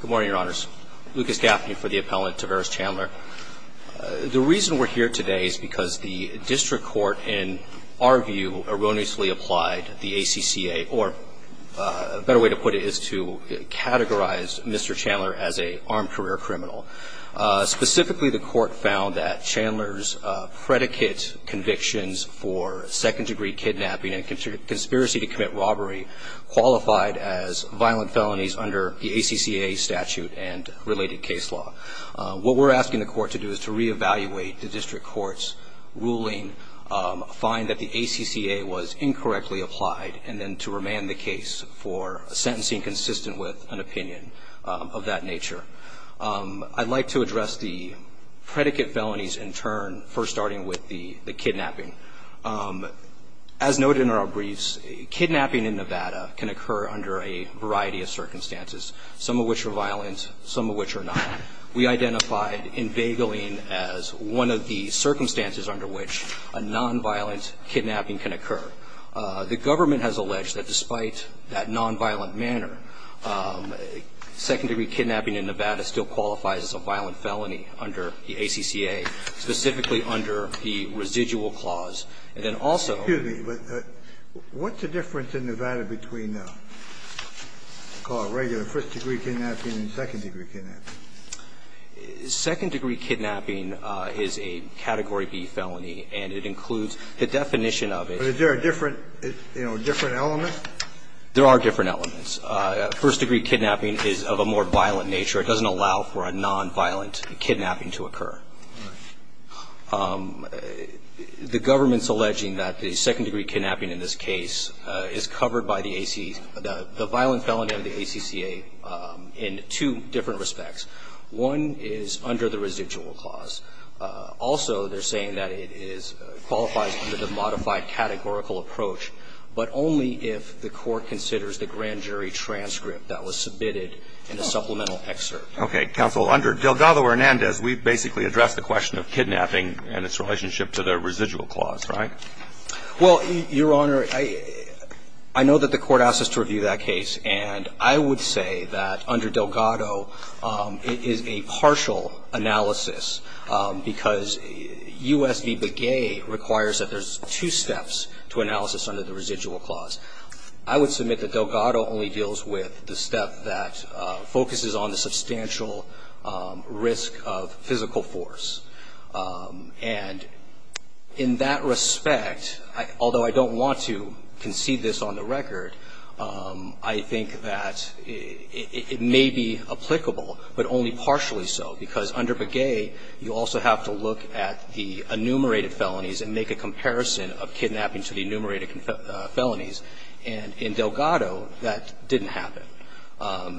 Good morning, Your Honors. Lucas Gaffney for the appellant, Tavares Chandler. The reason we're here today is because the district court, in our view, erroneously applied the ACCA, or a better way to put it is to categorize Mr. Chandler as an armed career criminal. Specifically, the court found that Chandler's predicate convictions for second degree kidnapping and conspiracy to commit robbery qualified as violent felonies under the ACCA statute and related case law. What we're asking the court to do is to reevaluate the district court's ruling, find that the ACCA was incorrectly applied, and then to remand the case for sentencing consistent with an opinion of that nature. I'd like to address the predicate felonies in turn, first starting with the kidnapping. As noted in our briefs, kidnapping in Nevada can occur under a variety of circumstances, some of which are violent, some of which are not. We identified in Bageline as one of the circumstances under which a nonviolent kidnapping can occur. The government has alleged that despite that nonviolent manner, second degree kidnapping in Nevada still qualifies as a violent felony under the ACCA, specifically under the residual clause. And then also the law. Kennedy, what's the difference in Nevada between what's called regular first degree kidnapping and second degree kidnapping? Second degree kidnapping is a Category B felony, and it includes the definition of it. But is there a different, you know, different element? There are different elements. First degree kidnapping is of a more violent nature. It doesn't allow for a nonviolent kidnapping to occur. All right. The government's alleging that the second degree kidnapping in this case is covered by the AC, the violent felony under the ACCA in two different respects. One is under the residual clause. Also, they're saying that it qualifies under the modified categorical approach, but only if the Court considers the grand jury transcript that was submitted in the supplemental excerpt. Okay. Counsel, under Delgado-Hernandez, we basically addressed the question of kidnapping and its relationship to the residual clause, right? Well, Your Honor, I know that the Court asked us to review that case, and I would say that under Delgado, it is a partial analysis, because U.S. v. Begay requires that there's two steps to analysis under the residual clause. I would submit that Delgado only deals with the step that focuses on the substantial risk of physical force. And in that respect, although I don't want to concede this on the record, I think that it may be applicable, but only partially so, because under Begay, you also have to look at the enumerated felonies and make a comparison of kidnapping to the enumerated felonies. And in Delgado, that didn't happen.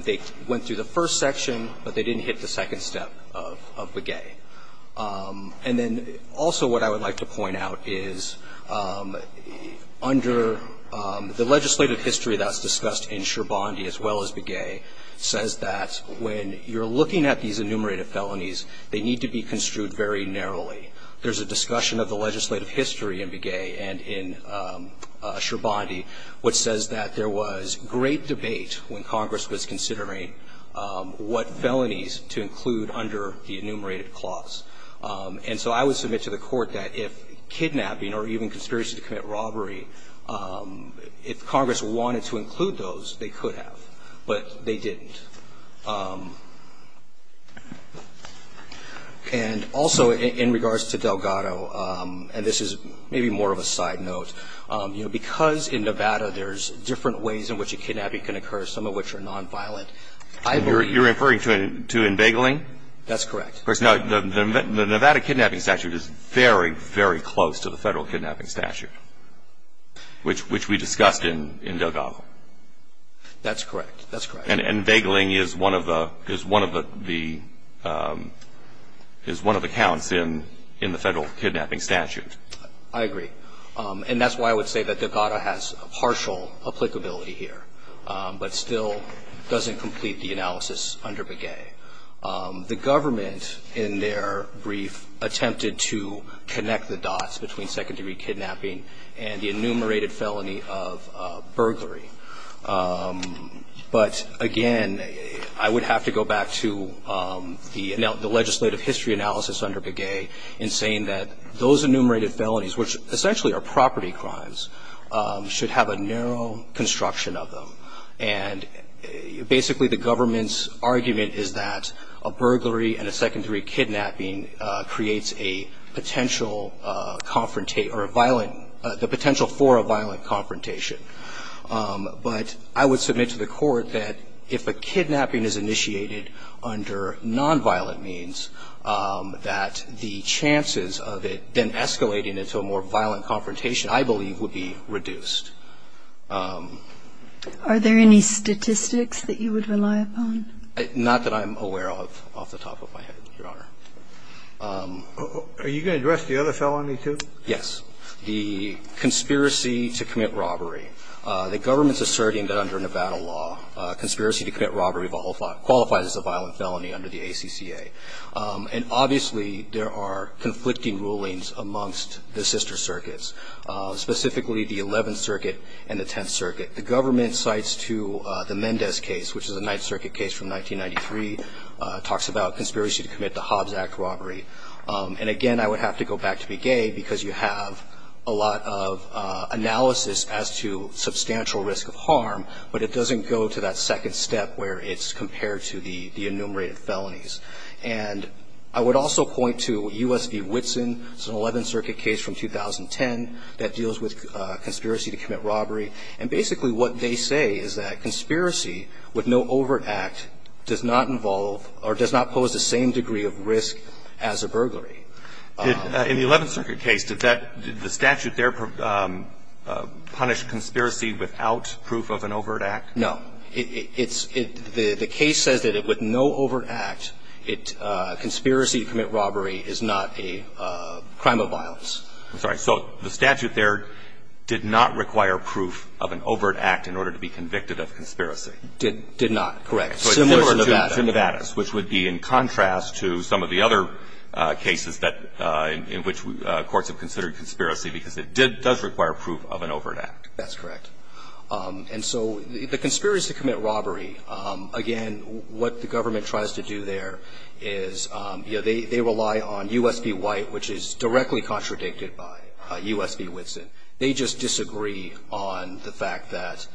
They went through the first section, but they didn't hit the second step of Begay. And then also what I would like to point out is under the legislative history that's discussed in Scherbondy as well as Begay says that when you're looking at these enumerated felonies, they need to be construed very narrowly. There's a discussion of the legislative history in Begay and in Scherbondy which says that there was great debate when Congress was considering what felonies to include under the enumerated clause. And so I would submit to the Court that if kidnapping or even conspiracy to commit robbery, if Congress wanted to include those, they could have. But they didn't. And also in regards to Delgado, and this is maybe more of a side note, you know, because in Nevada there's different ways in which a kidnapping can occur, some of which are nonviolent. I believe you're referring to enveigling? That's correct. The Nevada kidnapping statute is very, very close to the Federal kidnapping statute, which we discussed in Delgado. That's correct. That's correct. And enveigling is one of the counts in the Federal kidnapping statute. I agree. And that's why I would say that Delgado has partial applicability here, but still doesn't complete the analysis under Begay. The government, in their brief, attempted to connect the dots between second-degree kidnapping and the enumerated felony of burglary. But, again, I would have to go back to the legislative history analysis under Begay in saying that those enumerated felonies, which essentially are property crimes, should have a narrow construction of them. And basically the government's argument is that a burglary and a second-degree kidnapping creates a potential confrontation or a violent – the potential for a violent confrontation. But I would submit to the Court that if a kidnapping is initiated under nonviolent means, that the chances of it then escalating into a more violent confrontation, I believe, would be reduced. Are there any statistics that you would rely upon? Not that I'm aware of off the top of my head, Your Honor. Are you going to address the other felony, too? Yes. The conspiracy to commit robbery. The government's asserting that under Nevada law, conspiracy to commit robbery qualifies as a violent felony under the ACCA. And obviously there are conflicting rulings amongst the sister circuits, specifically the Eleventh Circuit and the Tenth Circuit. The government cites to the Mendez case, which is a Ninth Circuit case from 1993, talks about conspiracy to commit the Hobbs Act robbery. And again, I would have to go back to Begay because you have a lot of analysis as to substantial risk of harm, but it doesn't go to that second step where it's compared to the enumerated felonies. And I would also point to U.S. v. Whitson. It's an Eleventh Circuit case from 2010 that deals with conspiracy to commit robbery. And basically what they say is that conspiracy with no overt act does not involve or does not pose the same degree of risk as a burglary. In the Eleventh Circuit case, did that – did the statute there punish conspiracy without proof of an overt act? No. It's – the case says that with no overt act, conspiracy to commit robbery is not a crime of violence. I'm sorry. So the statute there did not require proof of an overt act in order to be convicted of conspiracy. Did not, correct. Similar to Nevada. Similar to Nevada, which would be in contrast to some of the other cases that – in which courts have considered conspiracy because it does require proof of an overt act. That's correct. And so the conspiracy to commit robbery, again, what the government tries to do there is, you know, they rely on U.S. v. White, which is directly contradicted by U.S. v. Whitson. They just disagree on the fact that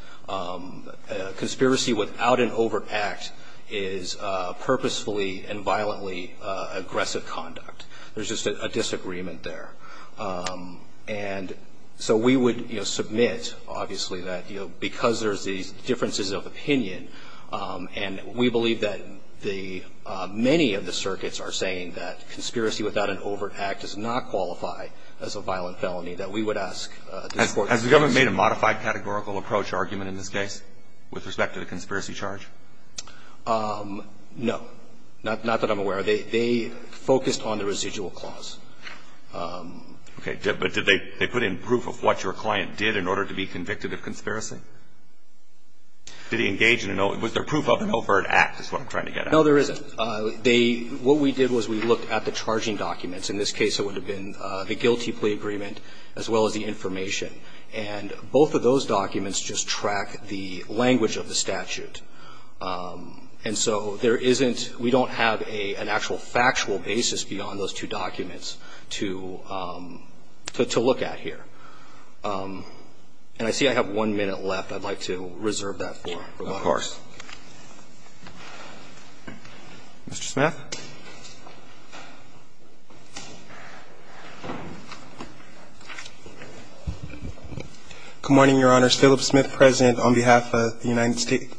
conspiracy without an overt act is purposefully and violently aggressive conduct. There's just a disagreement there. And so we would, you know, submit, obviously, that, you know, because there's these many of the circuits are saying that conspiracy without an overt act does not qualify as a violent felony, that we would ask the courts to do this. Has the government made a modified categorical approach argument in this case with respect to the conspiracy charge? No. Not that I'm aware of. They focused on the residual clause. Okay. But did they put in proof of what your client did in order to be convicted of conspiracy? Did he engage in an – was there proof of an overt act is what I'm trying to get at. No. But they – what we did was we looked at the charging documents. In this case, it would have been the guilty plea agreement as well as the information. And both of those documents just track the language of the statute. And so there isn't – we don't have an actual factual basis beyond those two documents to look at here. And I see I have one minute left. I'd like to reserve that for rebuttals. Of course. Mr. Smith. Good morning, Your Honor. Philip Smith, present on behalf of the United States.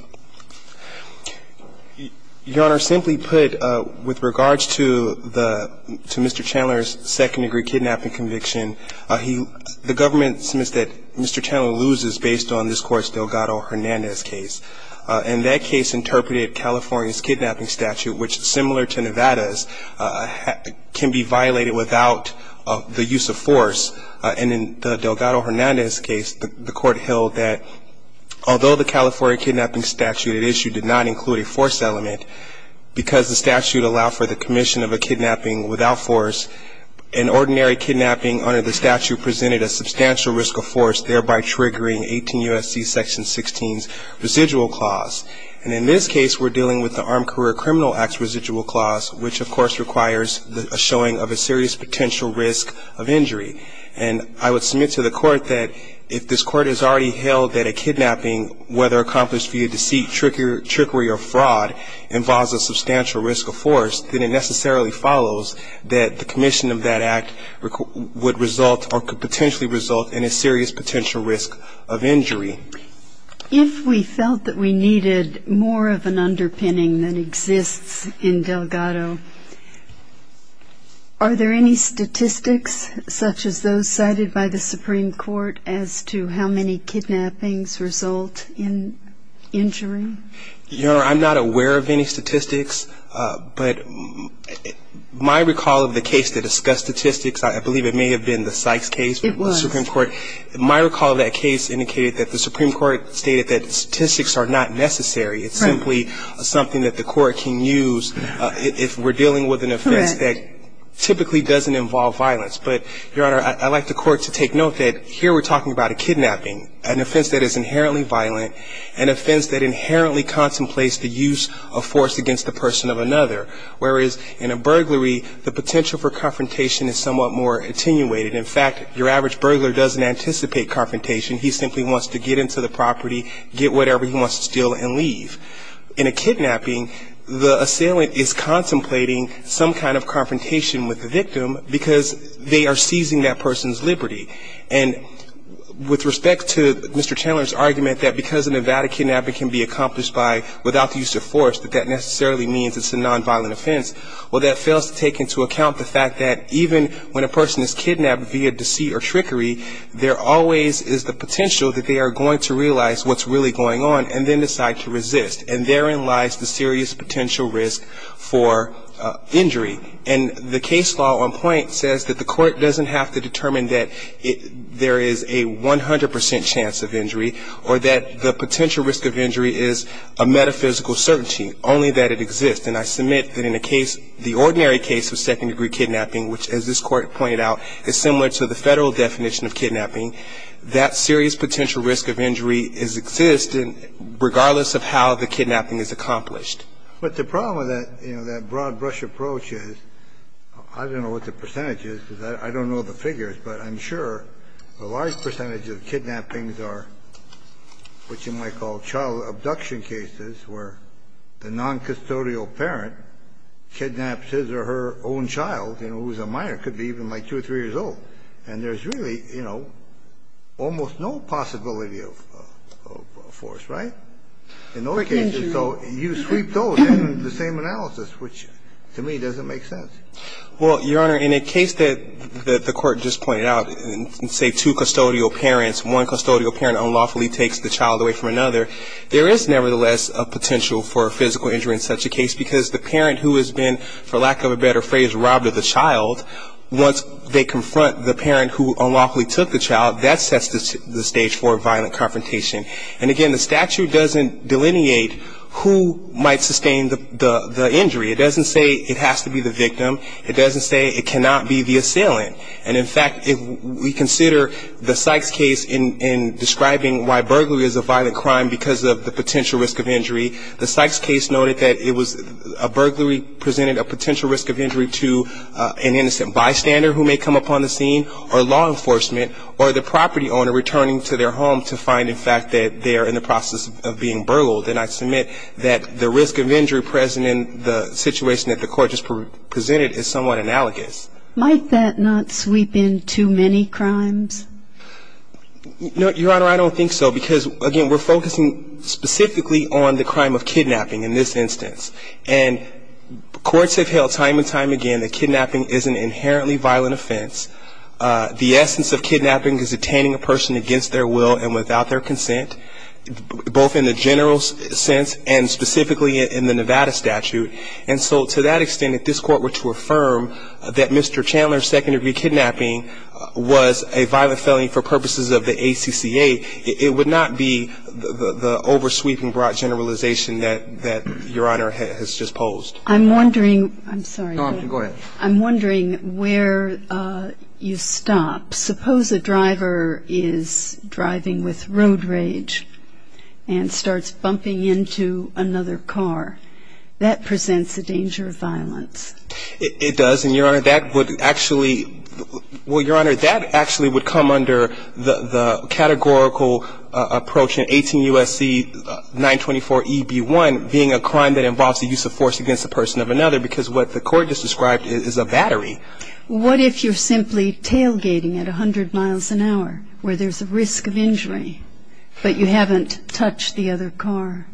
Your Honor, simply put, with regards to the – to Mr. Chandler's second-degree kidnapping conviction, he – the government admits that Mr. Chandler loses based on this Court's Delgado-Hernandez case. And that case interpreted California's kidnapping statute, which, similar to Nevada's, can be violated without the use of force. And in the Delgado-Hernandez case, the Court held that although the California kidnapping statute it issued did not include a force element, because the statute allowed for the commission of a kidnapping without force, an ordinary kidnapping under the statute presented a substantial risk of force, thereby triggering 18 U.S.C. Section 16's residual clause. And in this case, we're dealing with the Armed Career Criminal Act's residual clause, which, of course, requires a showing of a serious potential risk of injury. And I would submit to the Court that if this Court has already held that a kidnapping, whether accomplished via deceit, trickery, or fraud, involves a substantial risk of force, then it necessarily follows that the commission of that act would result or could potentially result in a serious potential risk of injury. If we felt that we needed more of an underpinning that exists in Delgado, are there any statistics, such as those cited by the Supreme Court, as to how many kidnappings result in injury? Your Honor, I'm not aware of any statistics. But my recall of the case that discussed statistics, I believe it may have been the Sykes case. It was. The Supreme Court. My recall of that case indicated that the Supreme Court stated that statistics are not necessary. Right. It's simply something that the Court can use if we're dealing with an offense that typically doesn't involve violence. But, Your Honor, I'd like the Court to take note that here we're talking about a kidnapping, an offense that is inherently violent, an offense that inherently contemplates the use of force against the person of another, whereas in a burglary, the potential for confrontation is somewhat more attenuated. In fact, your average burglar doesn't anticipate confrontation. He simply wants to get into the property, get whatever he wants to steal, and leave. In a kidnapping, the assailant is contemplating some kind of confrontation with the victim, because they are seizing that person's liberty. And with respect to Mr. Chandler's argument that because a Nevada kidnapping can be contemplated without the use of force, that that necessarily means it's a nonviolent offense, well, that fails to take into account the fact that even when a person is kidnapped via deceit or trickery, there always is the potential that they are going to realize what's really going on and then decide to resist. And therein lies the serious potential risk for injury. And the case law on point says that the Court doesn't have to determine that there is a 100 percent chance of injury or that the potential risk of injury is a metaphysical certainty, only that it exists. And I submit that in a case, the ordinary case of second-degree kidnapping, which, as this Court pointed out, is similar to the Federal definition of kidnapping, that serious potential risk of injury exists regardless of how the kidnapping is accomplished. But the problem with that, you know, that broad brush approach is I don't know what the percentage is because I don't know the figures, but I'm sure a large percentage of kidnappings are what you might call child abduction cases where the noncustodial parent kidnaps his or her own child, you know, who's a minor, could be even like two or three years old. And there's really, you know, almost no possibility of force, right, in those cases. So you sweep those in the same analysis, which to me doesn't make sense. Well, Your Honor, in a case that the Court just pointed out, say two custodial parents, one custodial parent unlawfully takes the child away from another, there is nevertheless a potential for a physical injury in such a case because the parent who has been, for lack of a better phrase, robbed of the child, once they confront the parent who unlawfully took the child, that sets the stage for a violent confrontation. And, again, the statute doesn't delineate who might sustain the injury. It doesn't say it has to be the victim. It doesn't say it cannot be the assailant. And, in fact, if we consider the Sykes case in describing why burglary is a violent crime because of the potential risk of injury, the Sykes case noted that it was a burglary presented a potential risk of injury to an innocent bystander who may come up on the scene or law enforcement or the property owner returning to their home to find, in fact, that they are in the process of being burgled. And I submit that the risk of injury present in the situation that the court just presented is somewhat analogous. Might that not sweep in too many crimes? Your Honor, I don't think so because, again, we're focusing specifically on the crime of kidnapping in this instance. And courts have held time and time again that kidnapping is an inherently violent offense. The essence of kidnapping is attaining a person against their will and without their consent, and specifically in the Nevada statute. And so to that extent, if this Court were to affirm that Mr. Chandler's second-degree kidnapping was a violent felony for purposes of the ACCA, it would not be the over-sweeping broad generalization that Your Honor has just posed. I'm wondering. I'm sorry. Go ahead. I'm wondering where you stop. Suppose a driver is driving with rude rage and starts bumping into another car. That presents a danger of violence. It does. And, Your Honor, that would actually – well, Your Honor, that actually would come under the categorical approach in 18 U.S.C. 924EB1 being a crime that involves the use of force against a person of another because what the court just described is a battery. What if you're simply tailgating at 100 miles an hour where there's a risk of injury, but you haven't touched the other car?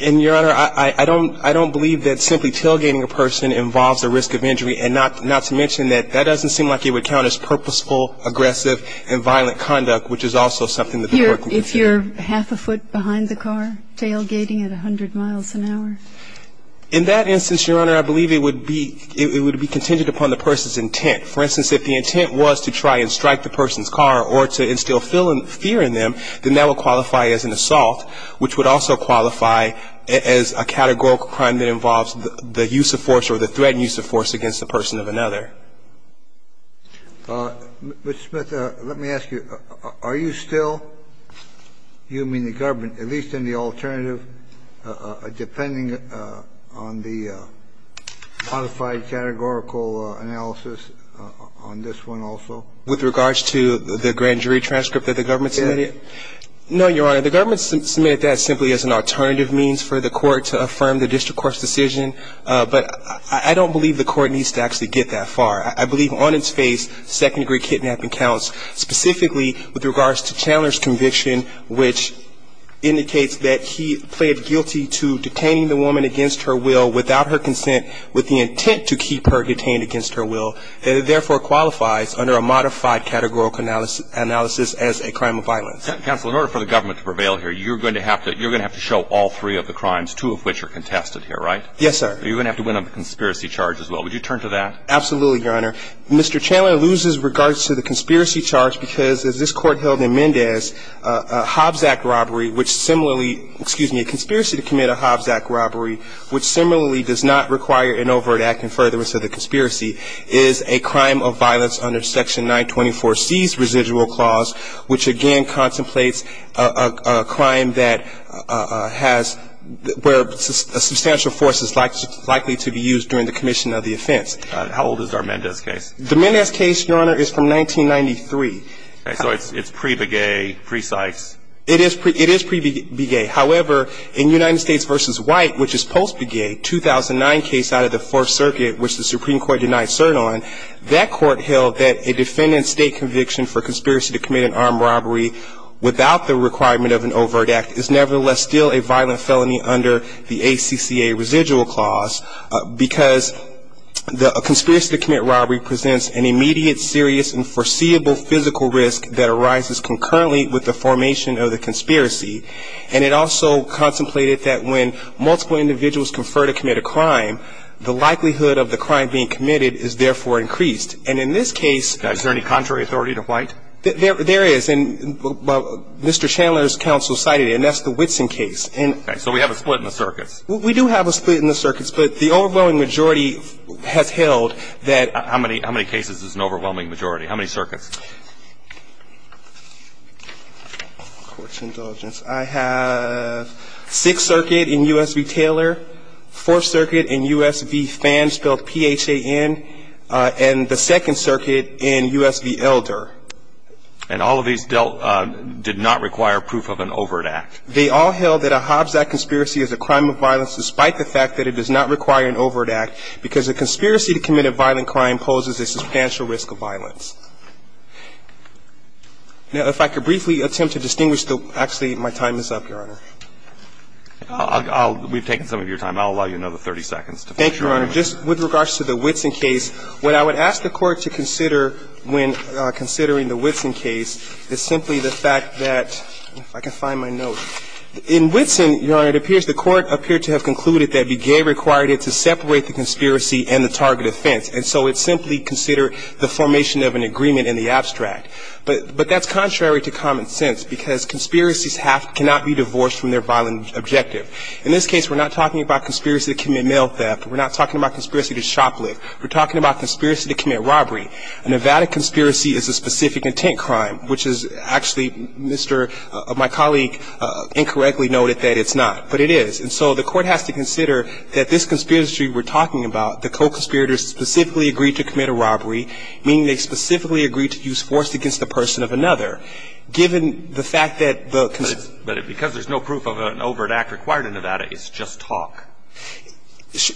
And, Your Honor, I don't believe that simply tailgating a person involves a risk of injury, and not to mention that that doesn't seem like it would count as purposeful, aggressive, and violent conduct, which is also something that the court would consider. If you're half a foot behind the car tailgating at 100 miles an hour? In that instance, Your Honor, I believe it would be – it would be contingent upon the person's intent. For instance, if the intent was to try and strike the person's car or to instill fear in them, then that would qualify as an assault, which would also qualify as a categorical crime that involves the use of force or the threatened use of force against the person of another. Mr. Smith, let me ask you, are you still – you mean the government – at least in the alternative, depending on the modified categorical analysis on this one also? With regards to the grand jury transcript that the government submitted? No, Your Honor. The government submitted that simply as an alternative means for the court to affirm the district court's decision, but I don't believe the court needs to actually get that far. I believe on its face, second-degree kidnapping counts, specifically with regards to Chandler's conviction, which indicates that he pleaded guilty to detaining the woman against her will without her consent with the intent to keep her detained against her will, and therefore qualifies under a modified categorical analysis as a crime of violence. Counsel, in order for the government to prevail here, you're going to have to – you're going to have to show all three of the crimes, two of which are contested here, right? Yes, sir. You're going to have to win a conspiracy charge as well. Would you turn to that? Absolutely, Your Honor. Mr. Chandler loses regards to the conspiracy charge because, as this court held in Mendez, a Hobbs Act robbery, which similarly – excuse me, a conspiracy to commit a Hobbs Act robbery, which similarly does not require an overt act in furtherance of the conspiracy, is a crime of violence under Section 924C's residual clause, which again contemplates a crime that has – where a substantial force is likely to be used during the commission of the offense. How old is our Mendez case? The Mendez case, Your Honor, is from 1993. Okay. So it's pre-Begay, pre-Sykes. It is pre-Begay. However, in United States v. White, which is post-Begay, 2009 case out of the Fourth Circuit, which the Supreme Court denied cert on, that court held that a defendant's state conviction for conspiracy to commit an armed robbery without the requirement of an overt act is nevertheless still a violent felony under the ACCA residual clause because the conspiracy to commit robbery presents an immediate, serious, and foreseeable physical risk that arises concurrently with the formation of the conspiracy. And it also contemplated that when multiple individuals confer to commit a crime, the likelihood of the crime being committed is therefore increased. And in this case – Is there any contrary authority to White? There is. And Mr. Chandler's counsel cited it. And that's the Whitson case. Okay. So we have a split in the circuits. We do have a split in the circuits, but the overwhelming majority has held that – How many cases is an overwhelming majority? How many circuits? I have Sixth Circuit in U.S. v. Taylor, Fourth Circuit in U.S. v. Phan, spelled P-H-A-N, and the Second Circuit in U.S. v. Elder. And all of these did not require proof of an overt act? They all held that a Hobbs Act conspiracy is a crime of violence despite the fact that it does not require an overt act because a conspiracy to commit a violent crime poses a substantial risk of violence. Now, if I could briefly attempt to distinguish the – actually, my time is up, Your Honor. We've taken some of your time. I'll allow you another 30 seconds to finish, Your Honor. Thank you, Your Honor. Just with regards to the Whitson case, what I would ask the Court to consider when considering the Whitson case is simply the fact that – if I can find my note. In Whitson, Your Honor, it appears the Court appeared to have concluded that Begay required it to separate the conspiracy and the target offense, and so it simply considered the formation of an agreement in the abstract. But that's contrary to common sense because conspiracies cannot be divorced from their violent objective. In this case, we're not talking about conspiracy to commit mail theft. We're not talking about conspiracy to shoplift. We're talking about conspiracy to commit robbery. A Nevada conspiracy is a specific intent crime, which is actually, Mr. – my colleague incorrectly noted that it's not. But it is. And so the Court has to consider that this conspiracy we're talking about, the co-conspirators specifically agreed to commit a robbery, meaning they specifically agreed to use force against the person of another. Given the fact that the – But it's – but because there's no proof of an overt act required in Nevada, it's just talk.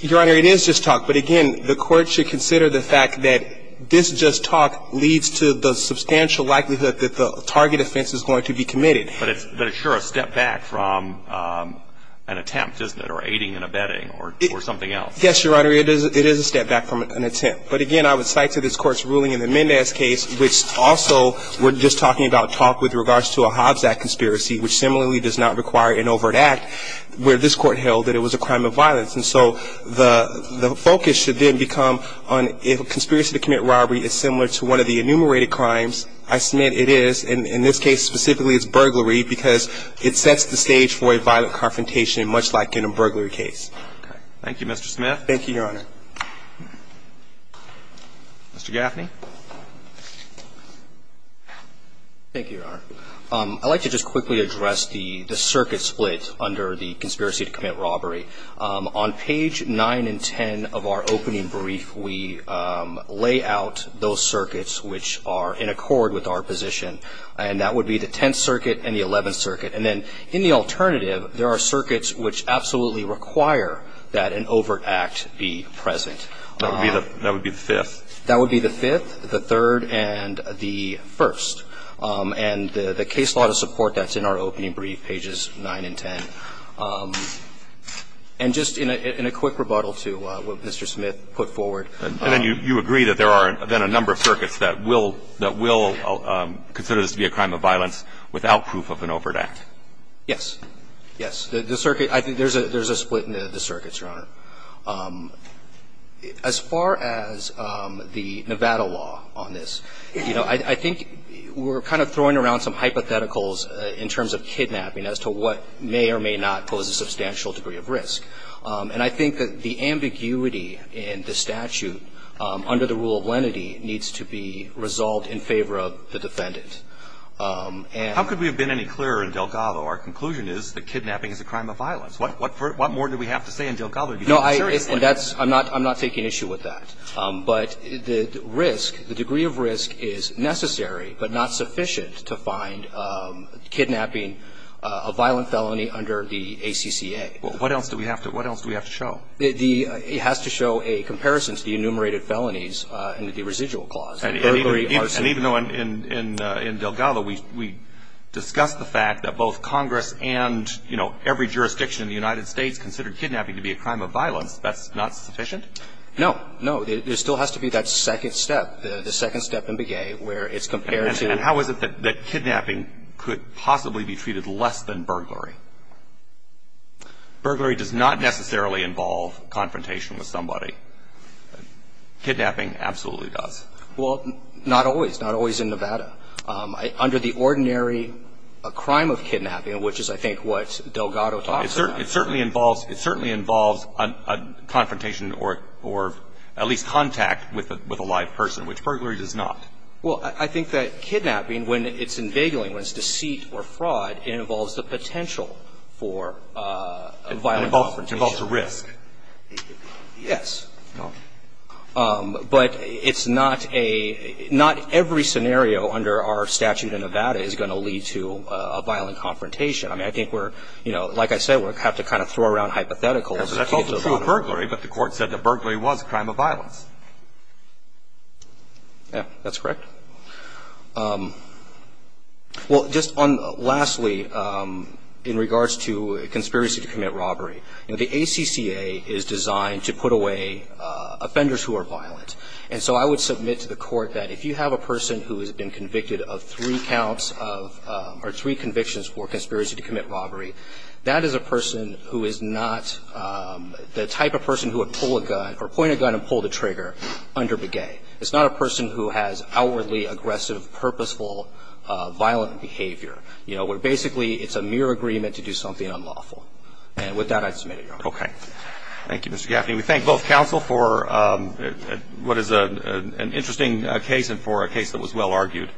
Your Honor, it is just talk. But again, the Court should consider the fact that this just talk leads to the substantial likelihood that the target offense is going to be committed. But it's sure a step back from an attempt, isn't it, or aiding and abetting or something else. Yes, Your Honor, it is a step back from an attempt. But again, I would cite to this Court's ruling in the Mendez case, which also we're just talking about talk with regards to a Hobbs Act conspiracy, which similarly does not require an overt act where this Court held that it was a crime of violence. And so the focus should then become on if a conspiracy to commit robbery is similar to one of the enumerated crimes, I submit it is. In this case specifically, it's burglary because it sets the stage for a violent confrontation, much like in a burglary case. Okay. Thank you, Mr. Smith. Thank you, Your Honor. Mr. Gaffney. Thank you, Your Honor. I'd like to just quickly address the circuit split under the conspiracy to commit robbery. On page 9 and 10 of our opening brief, we lay out those circuits which are in accord with our position. And that would be the Tenth Circuit and the Eleventh Circuit. And then in the alternative, there are circuits which absolutely require that an overt act be present. That would be the Fifth. That would be the Fifth, the Third, and the First. And the case law to support that's in our opening brief, pages 9 and 10. And just in a quick rebuttal to what Mr. Smith put forward. And then you agree that there are then a number of circuits that will consider this to be a crime of violence without proof of an overt act. Yes. Yes. The circuit, I think there's a split in the circuits, Your Honor. As far as the Nevada law on this, you know, I think we're kind of throwing around some hypotheticals in terms of kidnapping as to what may or may not pose a substantial degree of risk. And I think that the ambiguity in the statute under the rule of lenity needs to be resolved in favor of the defendant. And the circuit, I think there's a split in the circuits, Your Honor. some hypotheticals in terms of kidnapping as to what may or may not pose a substantial resolved in favor of the defendant. and what else do we have to show? It has to show a comparison to the enumerated felonies in the residual clause. And even though in Delgado we discussed the fact that both Congress and every jurisdiction in the United States considered kidnapping to be a crime of violence, that's not sufficient? No. There still has to be that second step, the second step in Bigay where it's compared to the. And how is it that kidnapping could possibly be treated less than burglary? Burglary does not necessarily involve confrontation with somebody. Kidnapping absolutely does. Well, not always. Not always in Nevada. Under the ordinary crime of kidnapping, which is I think what Delgado talks about. It certainly involves a confrontation or at least contact with a live person, which burglary does not. Well, I think that kidnapping, when it's invigilating, when it's deceit or fraud, it involves the potential for a violent confrontation. It involves a risk. Yes. But it's not a – not every scenario under our statute in Nevada is going to lead to a violent confrontation. I mean, I think we're – you know, like I said, we have to kind of throw around hypotheticals. That's also true of burglary. But the Court said that burglary was a crime of violence. Yeah. That's correct. Well, just on – lastly, in regards to conspiracy to commit robbery, you know, the ACCA is designed to put away offenders who are violent. And so I would submit to the Court that if you have a person who has been convicted of three counts of – or three convictions for conspiracy to commit robbery, that is a person who is not the type of person who would pull a gun or point a gun and pull the trigger under begay. It's not a person who has outwardly aggressive, purposeful, violent behavior. You know, we're basically – it's a mere agreement to do something unlawful. And with that, I submit it, Your Honor. Okay. Thank you, Mr. Gaffney. We thank both counsel for what is an interesting case and for a case that was well argued.